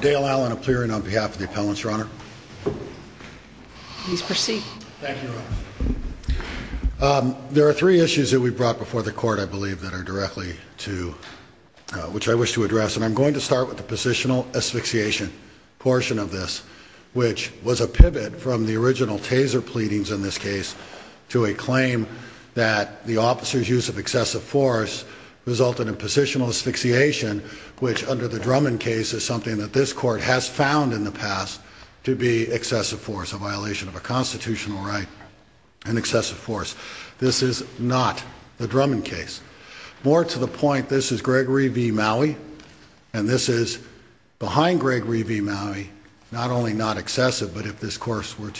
Dale Allen of Clearing on behalf of the Appellants, Your Honor. Please proceed. Thank you, Your Honor. There are three issues that we brought before the Court, I believe, that are directly to which I wish to address, and I'm going to start with the positional asphyxiation portion of this, which was a pivot from the original taser pleadings in this case to a claim that the officer's use of excessive force resulted in positional asphyxiation which, under the Drummond case, is something that this Court has found in the past to be excessive force, a violation of a constitutional right and excessive force. This is not the Drummond case. More to the point, this is Gregory v. Maui, and this is behind Gregory v. Maui, not only not excessive but if this Court were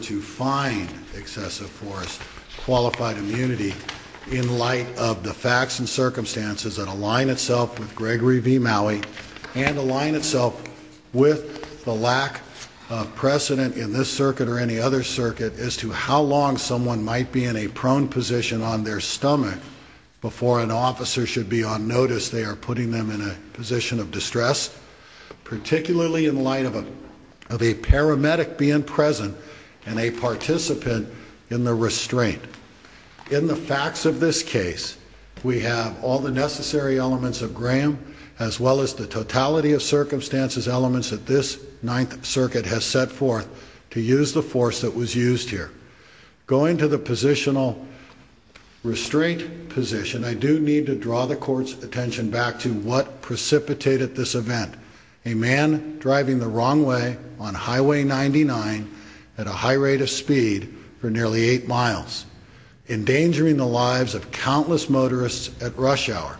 to find excessive force, qualified immunity, in light of the facts and circumstances that align itself with Gregory v. Maui and align itself with the lack of precedent in this circuit or any other circuit as to how long someone might be in a prone position on their stomach before an officer should be on notice, they are putting them in a position of distress, particularly in light of a paramedic being present and a participant in the restraint. In the case of Gregory v. Maui, we have all the necessary elements of Graham as well as the totality of circumstances elements that this Ninth Circuit has set forth to use the force that was used here. Going to the positional restraint position, I do need to draw the Court's attention back to what precipitated this event, a man driving the wrong way on Highway 99 at a high rate of speed for nearly 48 miles, endangering the lives of countless motorists at rush hour,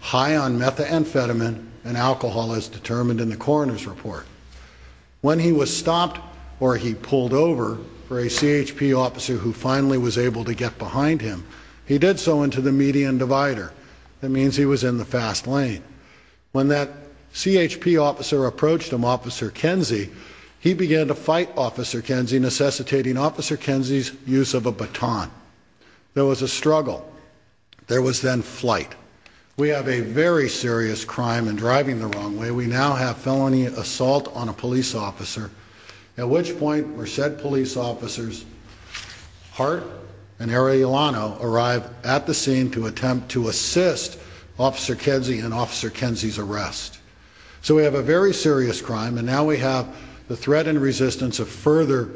high on methamphetamine and alcohol as determined in the coroner's report. When he was stopped or he pulled over for a CHP officer who finally was able to get behind him, he did so into the median divider. That means he was in the fast lane. When that CHP officer approached him, Officer Kenzie, he began to fight Officer Kenzie necessitating Officer Kenzie's use of a baton. There was a struggle. There was then flight. We have a very serious crime in driving the wrong way. We now have felony assault on a police officer, at which point were said police officers Hart and Arellano arrive at the scene to attempt to assist Officer Kenzie and Officer Kenzie's arrest. So we have a very serious crime and now we have the threat and resistance of further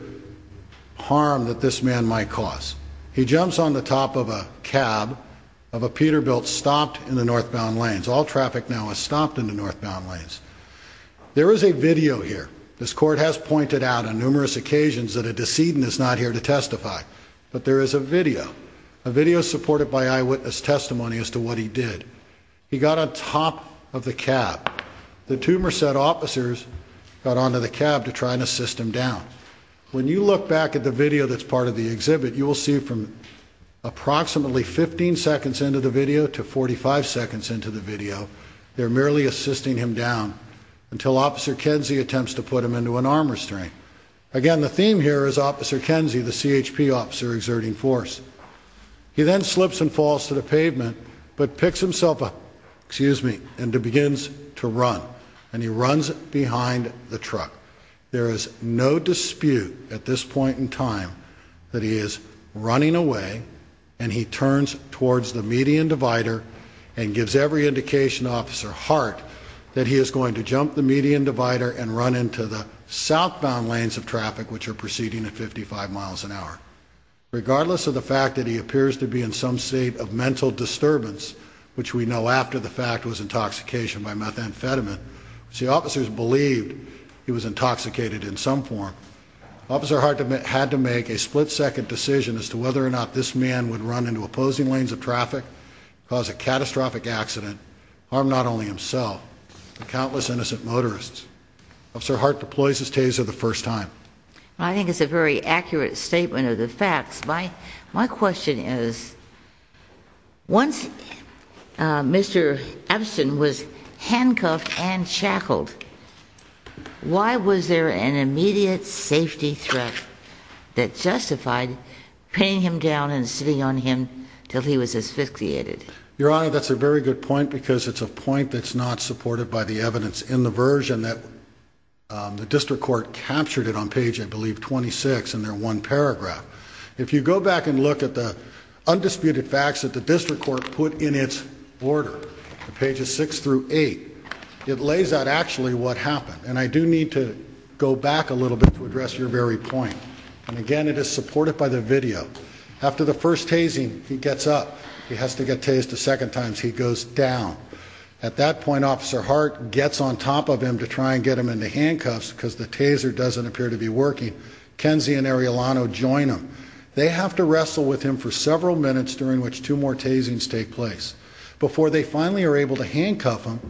harm that this man might cause. He jumps on the top of a cab of a Peterbilt stopped in the northbound lanes. All traffic now is stopped in the northbound lanes. There is a video here. This court has pointed out on numerous occasions that a decedent is not here to testify, but there is a video. A video supported by eyewitness testimony as to what he did. He got on top of the cab. The two officers on the cab try to assist him down. When you look back at the video that's part of the exhibit, you will see from approximately 15 seconds into the video to 45 seconds into the video, they're merely assisting him down until Officer Kenzie attempts to put him into an arm restraint. Again, the theme here is Officer Kenzie, the CHP officer exerting force. He then slips and falls to the pavement, but picks himself up and begins to run. He runs behind the truck. There is no dispute at this point in time that he is running away and he turns towards the median divider and gives every indication to Officer Hart that he is going to jump the median divider and run into the southbound lanes of traffic which are proceeding at 55 miles an hour. Regardless of the fact that he appears to be in some state of mental disturbance, which we know after the fact was intoxication by methamphetamine, the officers believed he was intoxicated in some form. Officer Hart had to make a split-second decision as to whether or not this man would run into opposing lanes of traffic, cause a catastrophic accident, harm not only himself but countless innocent motorists. Officer Hart deploys his taser the first time. I think it's a very accurate statement of the facts. My question is, once Mr. Epstein was handcuffed and shackled, why was there an immediate safety threat that justified pinning him down and sitting on him until he was asphyxiated? Your Honor, that's a very good point because it's a point that's not supported by the evidence in the version that the District Court captured it on page, I believe, 26 in their one paragraph. If you go back and look at the District Court put in its order, pages 6 through 8, it lays out actually what happened. And I do need to go back a little bit to address your very point. And again, it is supported by the video. After the first tasing, he gets up. He has to get tased a second time, so he goes down. At that point, Officer Hart gets on top of him to try and get him into handcuffs cause the taser doesn't appear to be working. Kenzie and Ariolano join him. They have to wrestle with him for several minutes during which two more tasings take place before they finally are able to handcuff him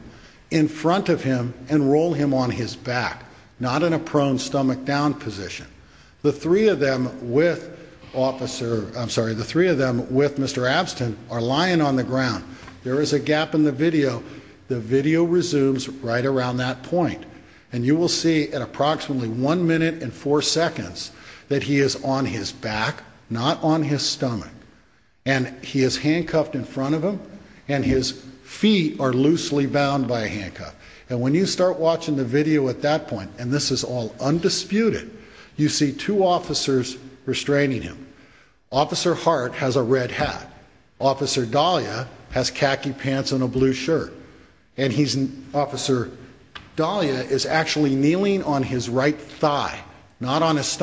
in front of him and roll him on his back, not in a prone stomach down position. The three of them with Officer, I'm sorry, the three of them with Mr. Abstin are lying on the ground. There is a gap in the video. The video resumes right around that point. And you will see at approximately one minute and four seconds that he is on his back, not on his stomach. And he is handcuffed in front of him and his feet are loosely bound by a handcuff. And when you start watching the video at that point, and this is all undisputed, you see two officers restraining him. Officer Hart has a red hat. Officer Dahlia has khaki pants and a blue shirt. And he's, Officer Dahlia is actually kneeling on his right thigh, not on his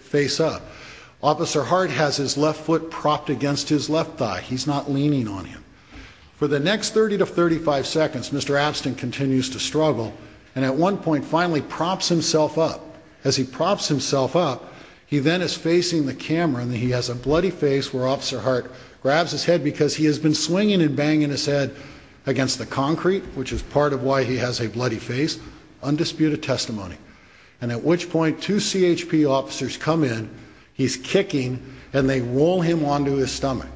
face up. Officer Hart has his left foot propped against his left thigh. He's not leaning on him. For the next 30 to 35 seconds Mr. Abstin continues to struggle and at one point finally props himself up. As he props himself up, he then is facing the camera and he has a bloody face where Officer Hart grabs his head because he has been swinging and banging his head against the concrete, which is part of why he has a bloody face. Undisputed testimony. And at which point two CHP officers come in. He's kicking and they roll him onto his stomach.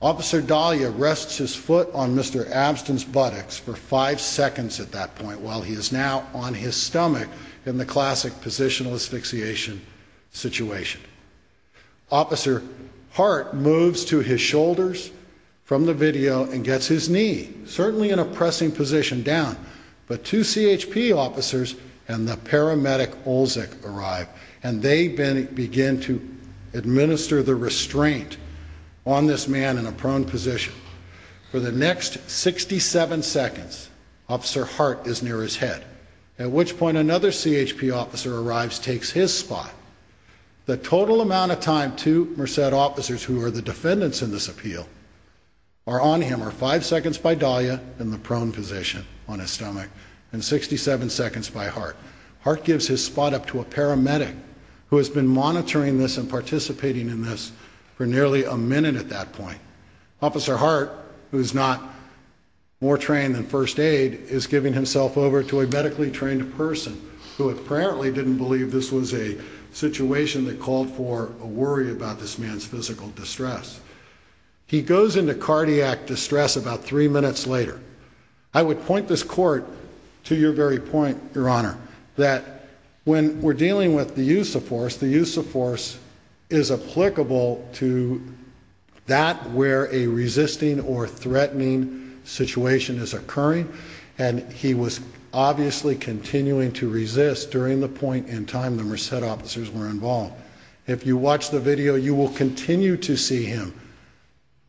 Officer Dahlia rests his foot on Mr. Abstin's buttocks for five seconds at that point while he is now on his stomach in the classic positional asphyxiation situation. Officer Hart moves to his shoulders from the video and gets his knee, certainly in a pressing position, down. But two CHP officers and the paramedic Olsek arrive and they begin to administer the restraint on this man in a prone position. For the next 67 seconds Officer Hart is near his head. At which point another CHP officer arrives, takes his spot. The total amount of time two Merced officers, who are the defendants in this appeal, are on him are five seconds by Dahlia in the prone position on his stomach and 67 seconds by Hart. Hart gives his spot up to a paramedic who has been monitoring this and participating in this for nearly a minute at that point. Officer Hart, who is not more trained than first aid, is giving himself over to a medically trained person who apparently didn't believe this was a situation that called for a worry about this man's physical distress. He goes into cardiac distress about three minutes later. I would point this court to your very point, Your Honor, that when we're dealing with the use of force, the use of force is applicable to that where a resisting or threatening situation is occurring and he was obviously continuing to resist during the point in time the Merced officers were involved. If you watch the video you will continue to see him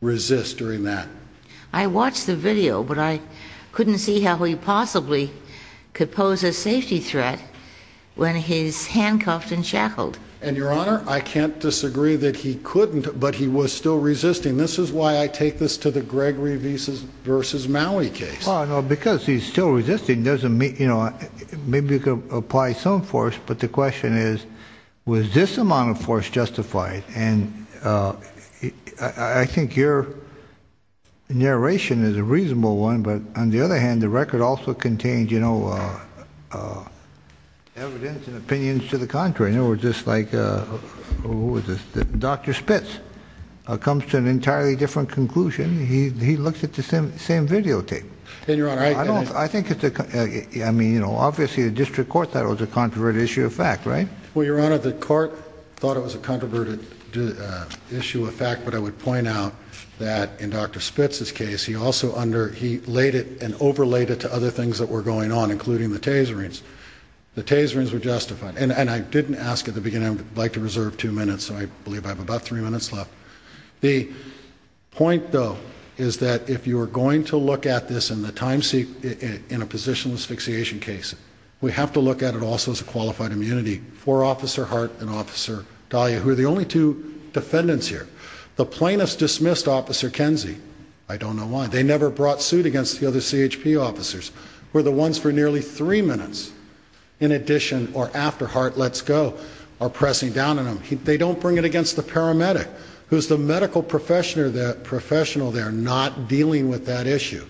resist during that. I watched the video, but I couldn't see how he possibly could pose a safety threat when he's handcuffed and shackled. And, Your Honor, I can't disagree that he couldn't, but he was still resisting. This is why I take this to the Gregory vs. Maui case. Because he's still resisting, maybe you could apply some force, but the question is, was this amount of force justified? And I think your narration is a reasonable one, but on the other hand, the record also contains evidence and opinions to the contrary. In other words, just like Dr. Spitz comes to an entirely different conclusion, he looks at the same videotape. And, Your Honor, I think it's a obviously the district court thought it was a controverted issue of fact, right? Well, Your Honor, the issue of fact, but I would point out that in Dr. Spitz's case, he also laid it and overlaid it to other things that were going on, including the Taserines. The Taserines were justified. And I didn't ask at the beginning, I would like to reserve two minutes, so I believe I have about three minutes left. The point, though, is that if you are going to look at this in a positionless asphyxiation case, we have to look at it also as a qualified immunity for Officer Hart and Officer Dahlia, who are the only two defendants here. The plaintiffs dismissed Officer Kenzie. I don't know why. They never brought suit against the other CHP officers, who were the ones for nearly three minutes in addition, or after Hart lets go, or pressing down on him. They don't bring it against the paramedic, who's the medical professional there not dealing with that issue.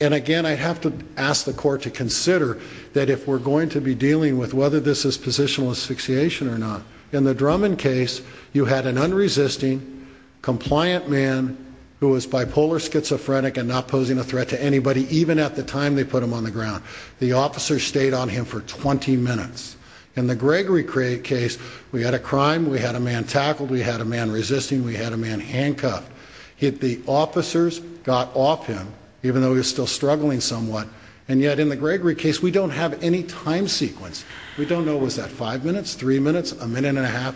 And again, I have to ask the court to consider that if we're going to be dealing with whether this is positionless asphyxiation or not. In the Drummond case, you had an unresisting, compliant man, who was bipolar, schizophrenic, and not posing a threat to anybody, even at the time they put him on the ground. The officers stayed on him for 20 minutes. In the Gregory case, we had a crime, we had a man tackled, we had a man resisting, we had a man handcuffed. Yet the officers got off him, even though he was still struggling somewhat. And yet in the Gregory case, we don't have any time sequence. We don't know, was that five minutes, three minutes, a minute and a half,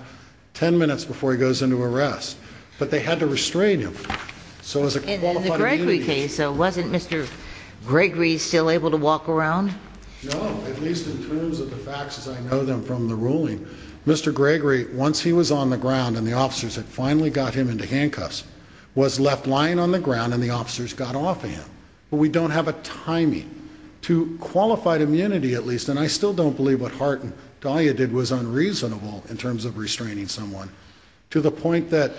ten minutes before he goes into arrest. But they had to restrain him. And in the Gregory case, wasn't Mr. Gregory still able to walk around? No, at least in terms of the facts as I know them from the ruling. Mr. Gregory, once he was on the ground and the officers had finally got him into handcuffs, was left lying on the ground and the officers got off him. But we don't have a qualified immunity at least, and I still don't believe what Hart and Dahlia did was unreasonable in terms of restraining someone to the point that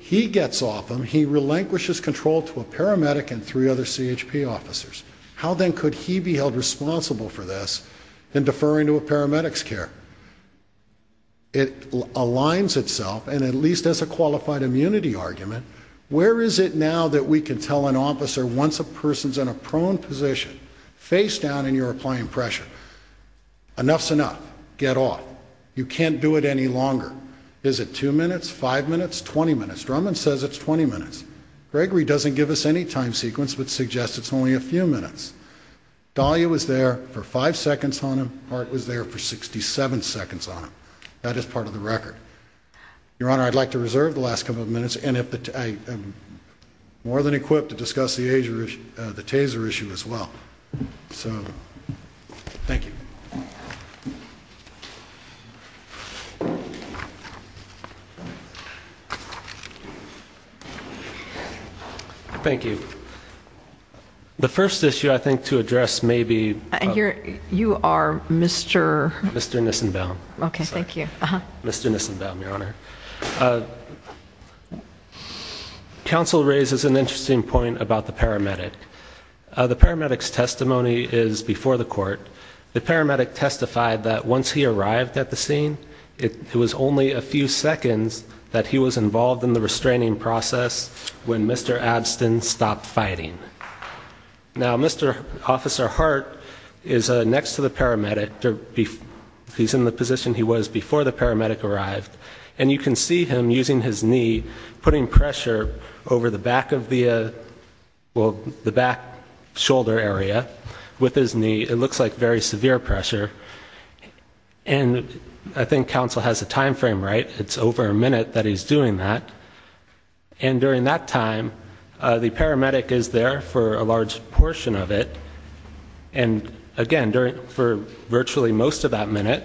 he gets off him, he relinquishes control to a paramedic and three other CHP officers. How then could he be held responsible for this in deferring to a paramedic's care? It aligns itself, and at least as a qualified immunity argument, where is it now that we can tell an officer once a person's in a prone position, face down and you're applying pressure, enough's enough, get off. You can't do it any longer. Is it two minutes, five minutes, twenty minutes? Drummond says it's twenty minutes. Gregory doesn't give us any time sequence but suggests it's only a few minutes. Dahlia was there for five seconds on him, Hart was there for sixty-seven seconds on him. That is part of the record. Your Honor, I'd like to reserve the last couple of minutes, and I'm more than happy to take questions. Thank you. The first issue I think to address may be... You are Mr.? Mr. Nissenbaum. Okay, thank you. Council raises an interesting point about the paramedic. The paramedic's testimony is before the court. The paramedic testified that once he arrived at the scene, it was only a few seconds that he was involved in the restraining process when Mr. Abstin stopped fighting. Now, Mr. Officer Hart is next to the paramedic. He's in the position he was before the paramedic arrived, and you can see him using his knee, putting pressure over the back of the... well, the back shoulder area with his knee. It looks like very severe pressure. And I think council has a time frame, right? It's over a minute that he's doing that, and during that time the paramedic is there for a large portion of it and, again, for virtually most of that minute,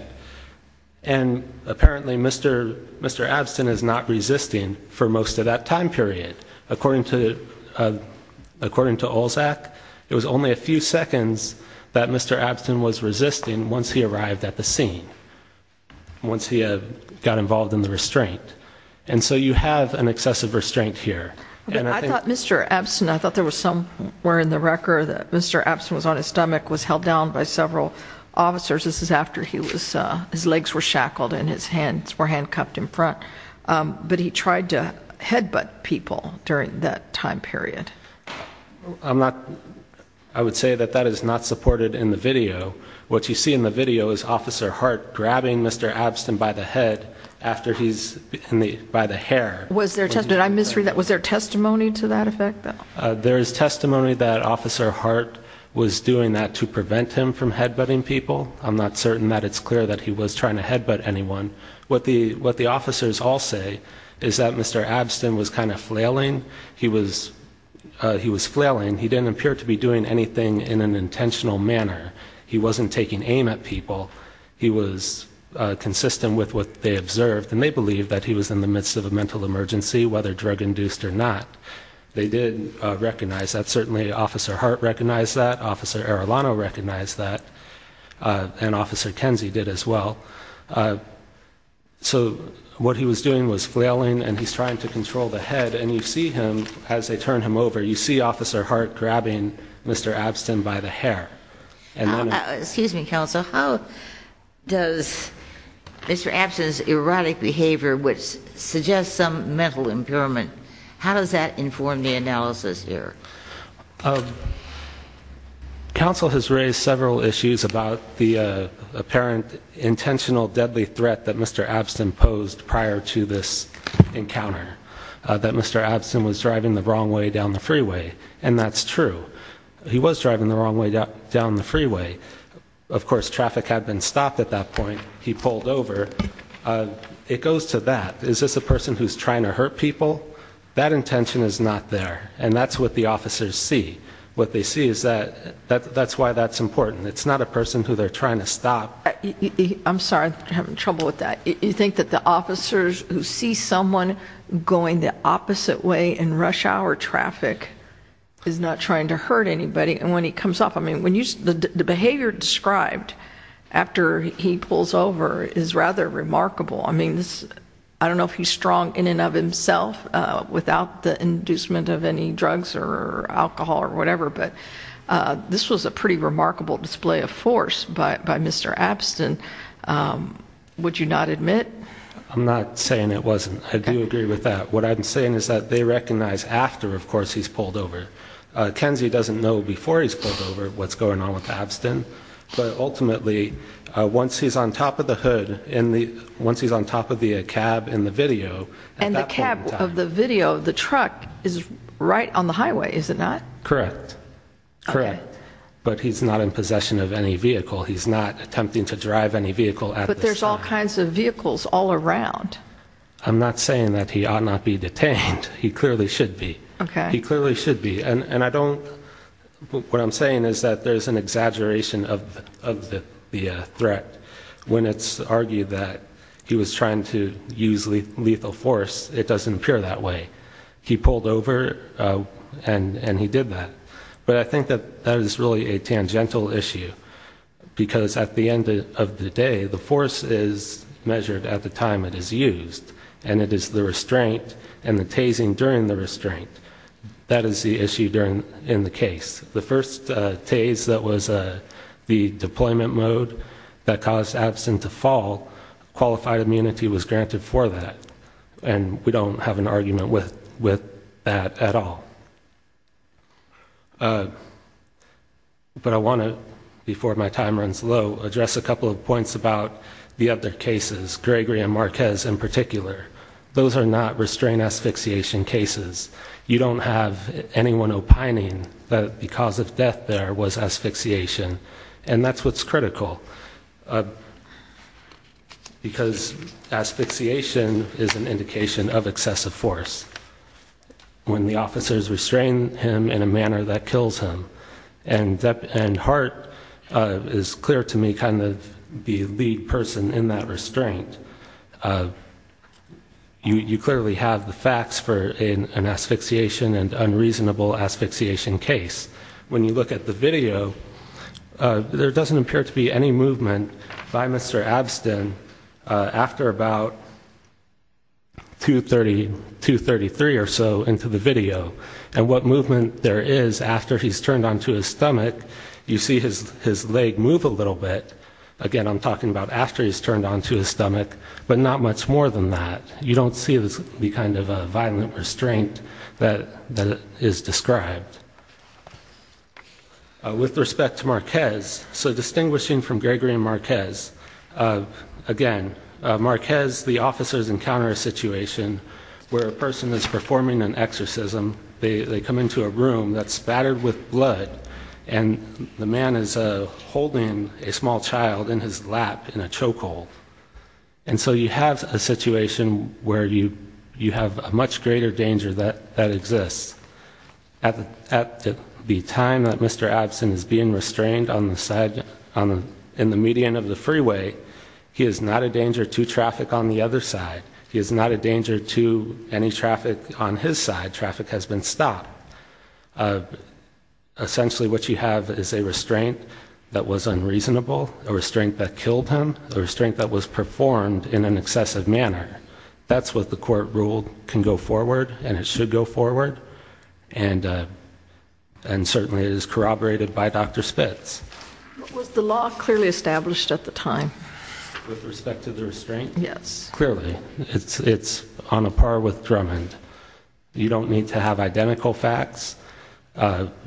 and apparently Mr. Abstin is not involved in the restraining period. According to Olzak, it was only a few seconds that Mr. Abstin was resisting once he arrived at the scene, once he got involved in the restraint. And so you have an excessive restraint here. I thought Mr. Abstin... I thought there was somewhere in the record that Mr. Abstin was on his stomach, was held down by several officers. This is after but he tried to headbutt people during that time period. I'm not... I would say that that is not supported in the video. What you see in the video is Officer Hart grabbing Mr. Abstin by the head after he's... by the hair. Was there testimony to that effect? There is testimony that Officer Hart was doing that to prevent him from headbutting people. I'm not certain that it's clear that he was trying to headbutt anyone. What the officers all say is that Mr. Abstin was kind of flailing. He was flailing. He didn't appear to be doing anything in an intentional manner. He wasn't taking aim at people. He was consistent with what they observed. And they believe that he was in the midst of a mental emergency, whether drug-induced or not. They did recognize that. Certainly Officer Hart recognized that. Officer Arellano recognized that. And Officer Kenzie did as well. So what he was doing was flailing, and he's trying to control the head. And you see him, as they turn him over, you see Officer Hart grabbing Mr. Abstin by the hair. Excuse me, Counsel. How does Mr. Abstin's erotic behavior, which suggests some mental impairment, how does that inform the analysis there? Counsel has raised several issues about the apparent intentional deadly threat that Mr. Abstin posed prior to this encounter. That Mr. Abstin was driving the wrong way down the freeway. And that's true. He was driving the wrong way down the freeway. Of course, traffic had been stopped at that point. He pulled over. It goes to that. Is this a person who's trying to hurt people? That intention is not there. And that's what the officers see. What they see is that that's why that's important. It's not a person who they're trying to stop. I'm sorry. I'm having trouble with that. You think that the officers who see someone going the opposite way in rush hour traffic is not trying to hurt anybody? And when he comes off, I mean, the behavior described after he pulls over is rather remarkable. I mean, I don't know if he's strong in and of himself without the inducement of any drugs or alcohol or whatever, but this was a pretty remarkable display of force by Mr. Abstin. Would you not admit? I'm not saying it wasn't. I do agree with that. What I'm saying is that they recognize after, of course, he's pulled over. Kenzie doesn't know before he's pulled over what's going on with Abstin, but ultimately once he's on top of the hood, once he's on top of the cab in the video. And the cab of the video, the truck is right on the highway, is it not? Correct. But he's not in possession of any vehicle. He's not attempting to drive any vehicle. But there's all kinds of vehicles all around. I'm not saying that he ought not be detained. He clearly should be. He clearly should be. And I don't, what I'm saying is that there's an exaggeration of the threat. When it's argued that he was trying to use lethal force, it doesn't appear that way. He pulled over and he did that. But I think that that is really a tangential issue because at the end of the day, the force is measured at the time it is used. And it is the restraint and the tasing during the restraint. That is the issue in the case. The first tase that was the deployment mode that caused Abstin to fall, qualified immunity was granted for that. And we don't have an argument with that at all. But I want to, before my time runs low, address a couple of points about the other cases, Gregory and Marquez in particular. Those are not restraint asphyxiation cases. You don't have anyone opining that the cause of death there was asphyxiation. And that's what's critical. Because asphyxiation is an indication of excessive force. When the officers restrain him in a manner that kills him. And Hart is clear to me kind of the lead person in that restraint. You clearly have the facts for an asphyxiation and unreasonable asphyxiation case. When you look at the video, there doesn't appear to be any movement by Mr. Abstin after about 2.33 or so into the video. And what movement there is after he's turned onto his stomach, you see his leg move a little bit. Again, I'm talking about after he's turned onto his stomach. But not much more than that. You don't see the kind of violent restraint that is described. With respect to Marquez, so distinguishing from Gregory and Marquez, again, Marquez, the officers encounter a situation where a person is performing an exorcism. They come into a room that's battered with blood. And the man is holding a small child in his lap in a chokehold. And so you have a situation where you have a much greater danger that exists. At the time that Mr. Abstin is being restrained in the median of the freeway, he is not a danger to traffic on the other side. He is not a danger to any traffic on his side. Traffic has been stopped. Essentially, what you have is a restraint that was unreasonable, a restraint that killed him, a restraint that was performed in an excessive manner. That's what the court ruled can go forward. And certainly it is corroborated by Dr. Spitz. Was the law clearly established at the time? With respect to the restraint? Yes. Clearly. It's on a par with Drummond. You don't need to have identical facts.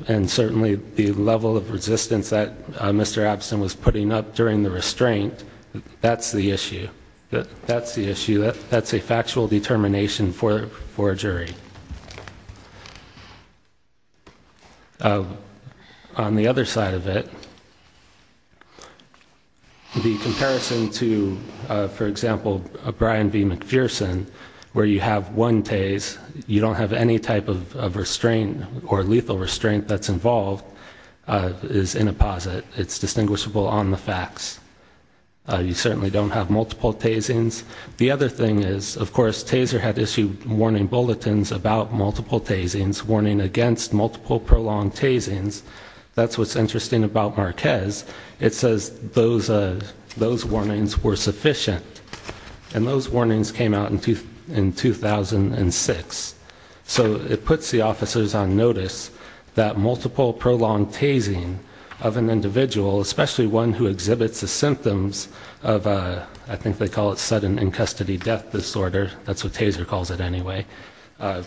And certainly the level of resistance that Mr. Abstin was putting up during the restraint, that's the issue. That's the issue. That's a factual determination for a jury. On the other side of it, the comparison to, for example, Brian B. McPherson, where you have one TAS, you don't have any type of restraint or lethal restraint that's involved, is in a posit. It's distinguishable on the facts. You certainly don't have multiple TASings. The other thing is, of course, TASER had issued warning bulletins about multiple TASings, warning against multiple prolonged TASings. That's what's interesting about Marquez. It says those warnings were sufficient. And those warnings came out in 2006. So it puts the officers on notice that multiple prolonged TASing of an individual, especially one who exhibits the symptoms of a, I think they call it sudden in custody death disorder, that's what TASER calls it anyway, that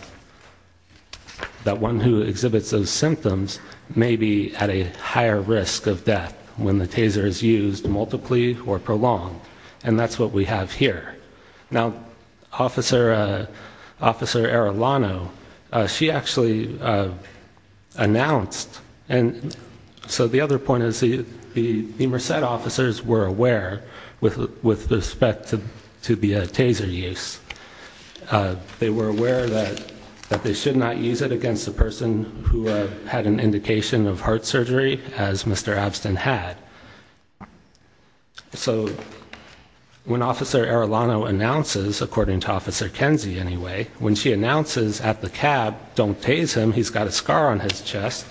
one who exhibits those symptoms may be at a higher risk of death when the TASer is used multiply or prolonged. And that's what we have here. Now, Officer Arellano, she actually announced, so the other point is the Merced officers were aware with respect to the TASER use. They were aware that they should not use it against a person who had an indication of heart surgery, as Mr. Avston had. So when Officer Arellano announces, according to Officer Kenzie anyway, when she announces at the cab, don't TASe him, he's got a scar on his chest,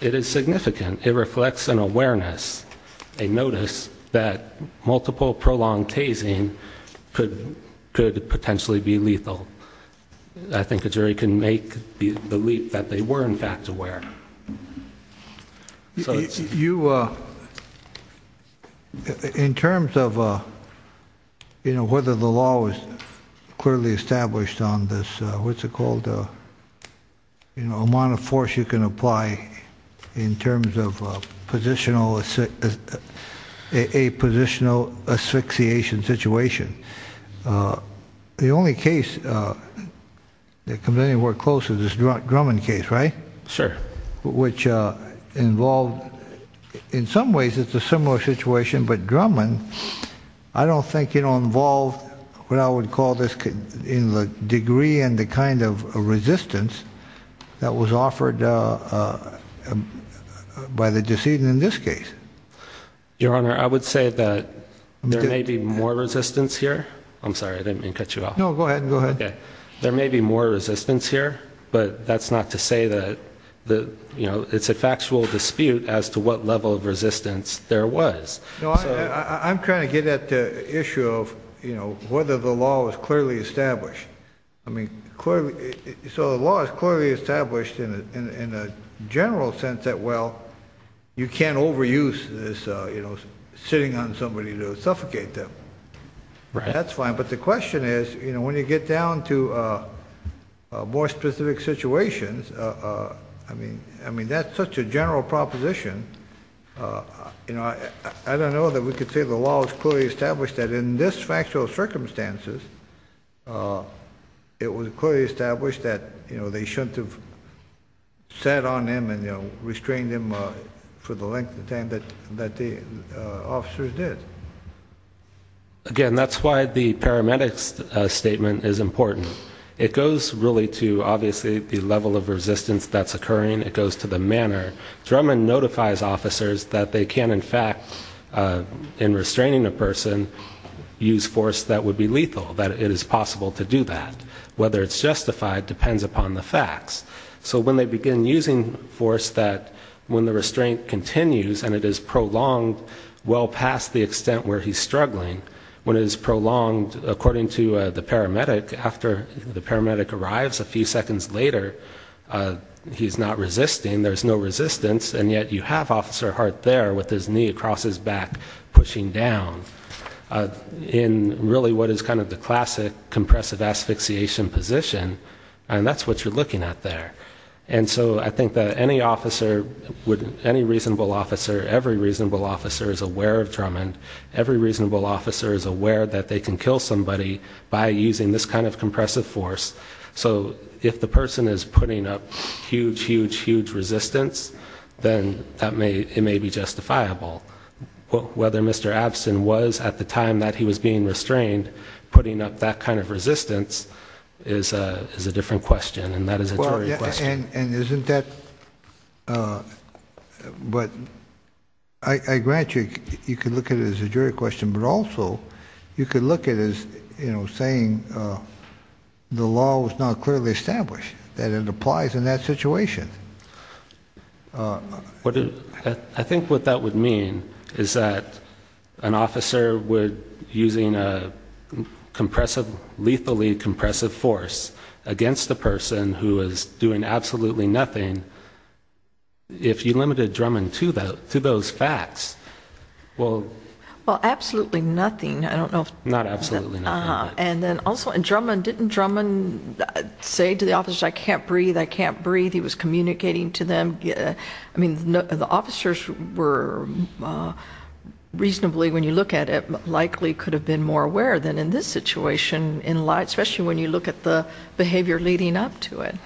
it is significant. It reflects an awareness, a notice that multiple prolonged TASing could potentially be lethal. I think a jury can make the leap that they were in fact aware. You, in terms of whether the law was clearly established on this, what's it called, the amount of force you can apply in terms of a positional asphyxiation situation. The only case that comes anywhere close to this Drummond case, right? Sure. Which involved in some ways it's a similar situation, but Drummond I don't think involved what I would call this in the degree and the kind of resistance that was offered by the decedent in this case. Your Honor, I would say that there may be more resistance here. I'm sorry, I didn't mean to cut you off. No, go ahead. There may be more resistance here, but that's not to say that it's a factual dispute as to what level of resistance there was. I'm trying to get at the issue of whether the law was clearly established. The law is clearly established in a general sense that you can't overuse sitting on somebody to suffocate them. That's fine, but the question is when you get down to more specific situations, that's such a general proposition. I don't know that we could say the law was clearly established that in this factual circumstances it was clearly established that they shouldn't have sat on him and restrained him for the length of time that the officers did. Again, that's why the paramedics statement is important. It goes really to obviously the level of resistance that's occurring. It goes to the manner. Drummond notifies officers that they can in fact in restraining a person use force that would be lethal, that it is possible to do that. Whether it's justified depends upon the facts. So when they begin using force that when the restraint continues and it is prolonged well past the extent where he's struggling, when it is prolonged according to the paramedic, after the paramedic arrives a few seconds later he's not resisting, there's no resistance, and yet you have his back pushing down in really what is kind of the classic compressive asphyxiation position and that's what you're looking at there. And so I think that any officer any reasonable officer, every reasonable officer is aware of Drummond every reasonable officer is aware that they can kill somebody by using this kind of compressive force. So if the person is putting up huge, huge, huge resistance, then it may be justifiable. Whether Mr. Abstin was at the time that he was being restrained, putting up that kind of resistance is a different question and that is a jury question. And isn't that I grant you, you could look at it as a jury question, but also you could look at it as saying the law was not clearly established, that it applies in that situation. I think what that would mean is that an officer would, using a compressive, lethally compressive force against a person who is doing absolutely nothing if you limited Drummond to those facts Well, absolutely nothing, I don't know if And also, didn't Drummond say to the officer I can't breathe, I can't breathe, he was communicating to them The officers were, reasonably when you look at it, likely could have been more aware than in this situation especially when you look at the behavior leading up to it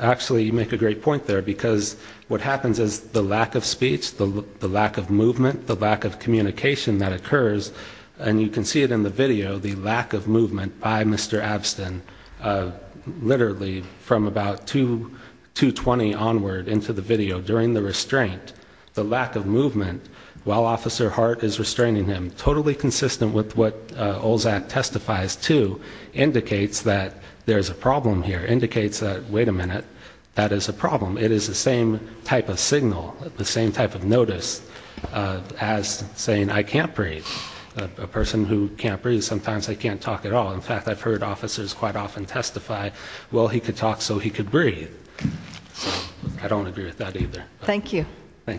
Actually, you make a great point there, because what happens is the lack of speech, the lack of movement, the lack of communication that occurs and you can see it in the video, the lack of movement by Mr. Abstin literally from about 2 20 onward into the video, during the restraint, the lack of movement while Officer Hart is restraining him, totally consistent with what Olzak testifies to, indicates that there's a problem here, indicates that, wait a minute, that is a problem, it is the same type of signal, the same type of notice as saying I can't breathe, a person who can't breathe, sometimes they can't talk at all, in fact I've heard officers quite often testify, well he could talk so he could breathe, I don't agree with that either Thank you I'm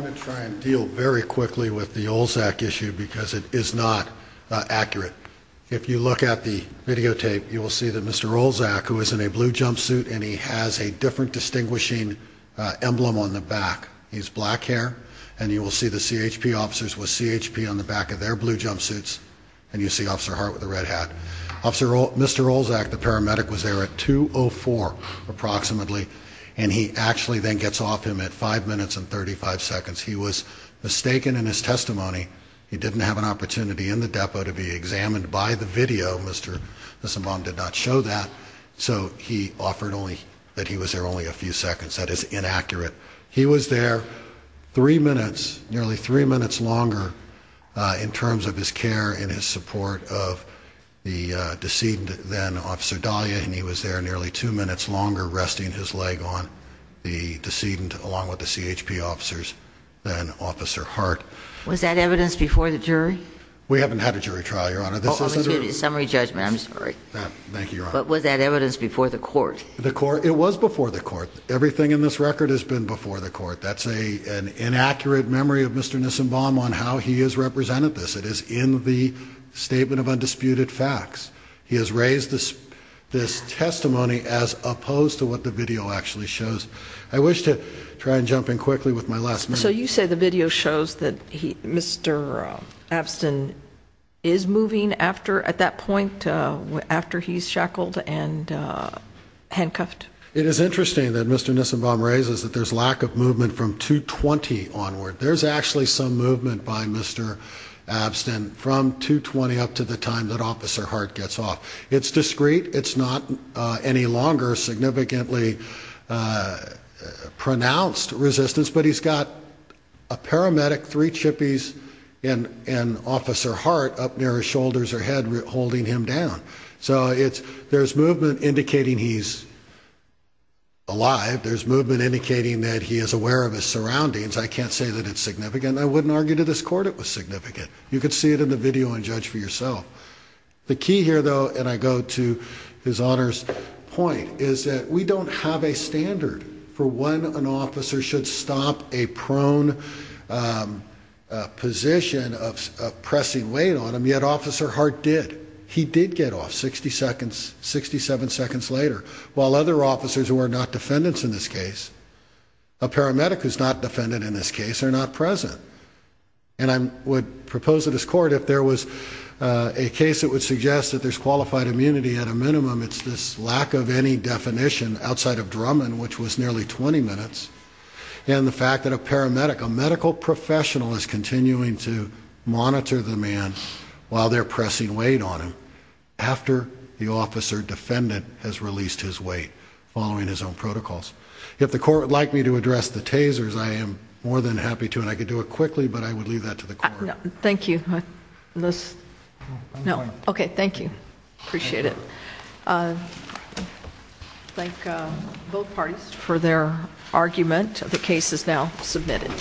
going to try and deal very quickly with the Olzak issue, because it is not accurate If you look at the videotape, you will see that Mr. Olzak, who is in a blue jumpsuit and he has a different distinguishing emblem on the back he has black hair, and you will see the CHP officers with CHP on the back of their blue jumpsuits, and you see Officer Hart with a red hat Mr. Olzak, the paramedic, was there at 2.04 approximately and he actually then gets off him at 5 minutes and 35 seconds he was mistaken in his testimony, he didn't have an opportunity in the depot to be examined by the video, Mr. Abstin did not show that, so he offered that he was there only a few seconds that is inaccurate, he was there 3 minutes, nearly 3 minutes longer in terms of his care and his support of the decedent, then Officer Dahlia, and he was there nearly 2 minutes longer resting his leg on the decedent along with the CHP officers, then Officer Hart Was that evidence before the jury? We haven't had a jury trial, Your Honor Summary judgment, I'm sorry, but was that evidence before the court? It was before the court, everything in this record has been before the court that's an inaccurate memory of Mr. Nissenbaum on how he has represented this, it is in the Statement of Undisputed Facts he has raised this testimony as opposed to what the video actually shows, I wish to try and jump in quickly with my last minute So you say the video shows that Mr. Abstin is moving after, at that point, after he's shackled and handcuffed? It is interesting that Mr. Nissenbaum raises that there's lack of movement from 2-20 onward, there's actually some movement by Mr. Abstin from 2-20 up to the time that Officer Hart gets off, it's discreet, it's not any longer significantly pronounced resistance, but he's got a paramedic, 3 chippies and Officer Hart up near his shoulders or head holding him down, so there's movement indicating he's alive, there's movement indicating that he is aware of his surroundings I can't say that it's significant, I wouldn't argue to this court it was significant you can see it in the video and judge for yourself. The key here though, and I go to his Honor's point, is that we don't have a standard for when an officer should stop a prone position of pressing weight on him and yet Officer Hart did, he did get off 60 seconds, 67 seconds later, while other officers who are not defendants in this case a paramedic who's not defendant in this case are not present and I would propose to this court if there was a case that would suggest that there's qualified immunity at a minimum, it's this lack of any definition outside of Drummond, which was nearly 20 minutes and the fact that a paramedic, a medical professional is continuing to while they're pressing weight on him, after the officer defendant has released his weight, following his own protocols. If the court would like me to address the tasers, I am more than happy to and I could do it quickly but I would leave that to the court. Thank you. Okay, thank you. Appreciate it. Thank both parties for their argument. The case is now submitted.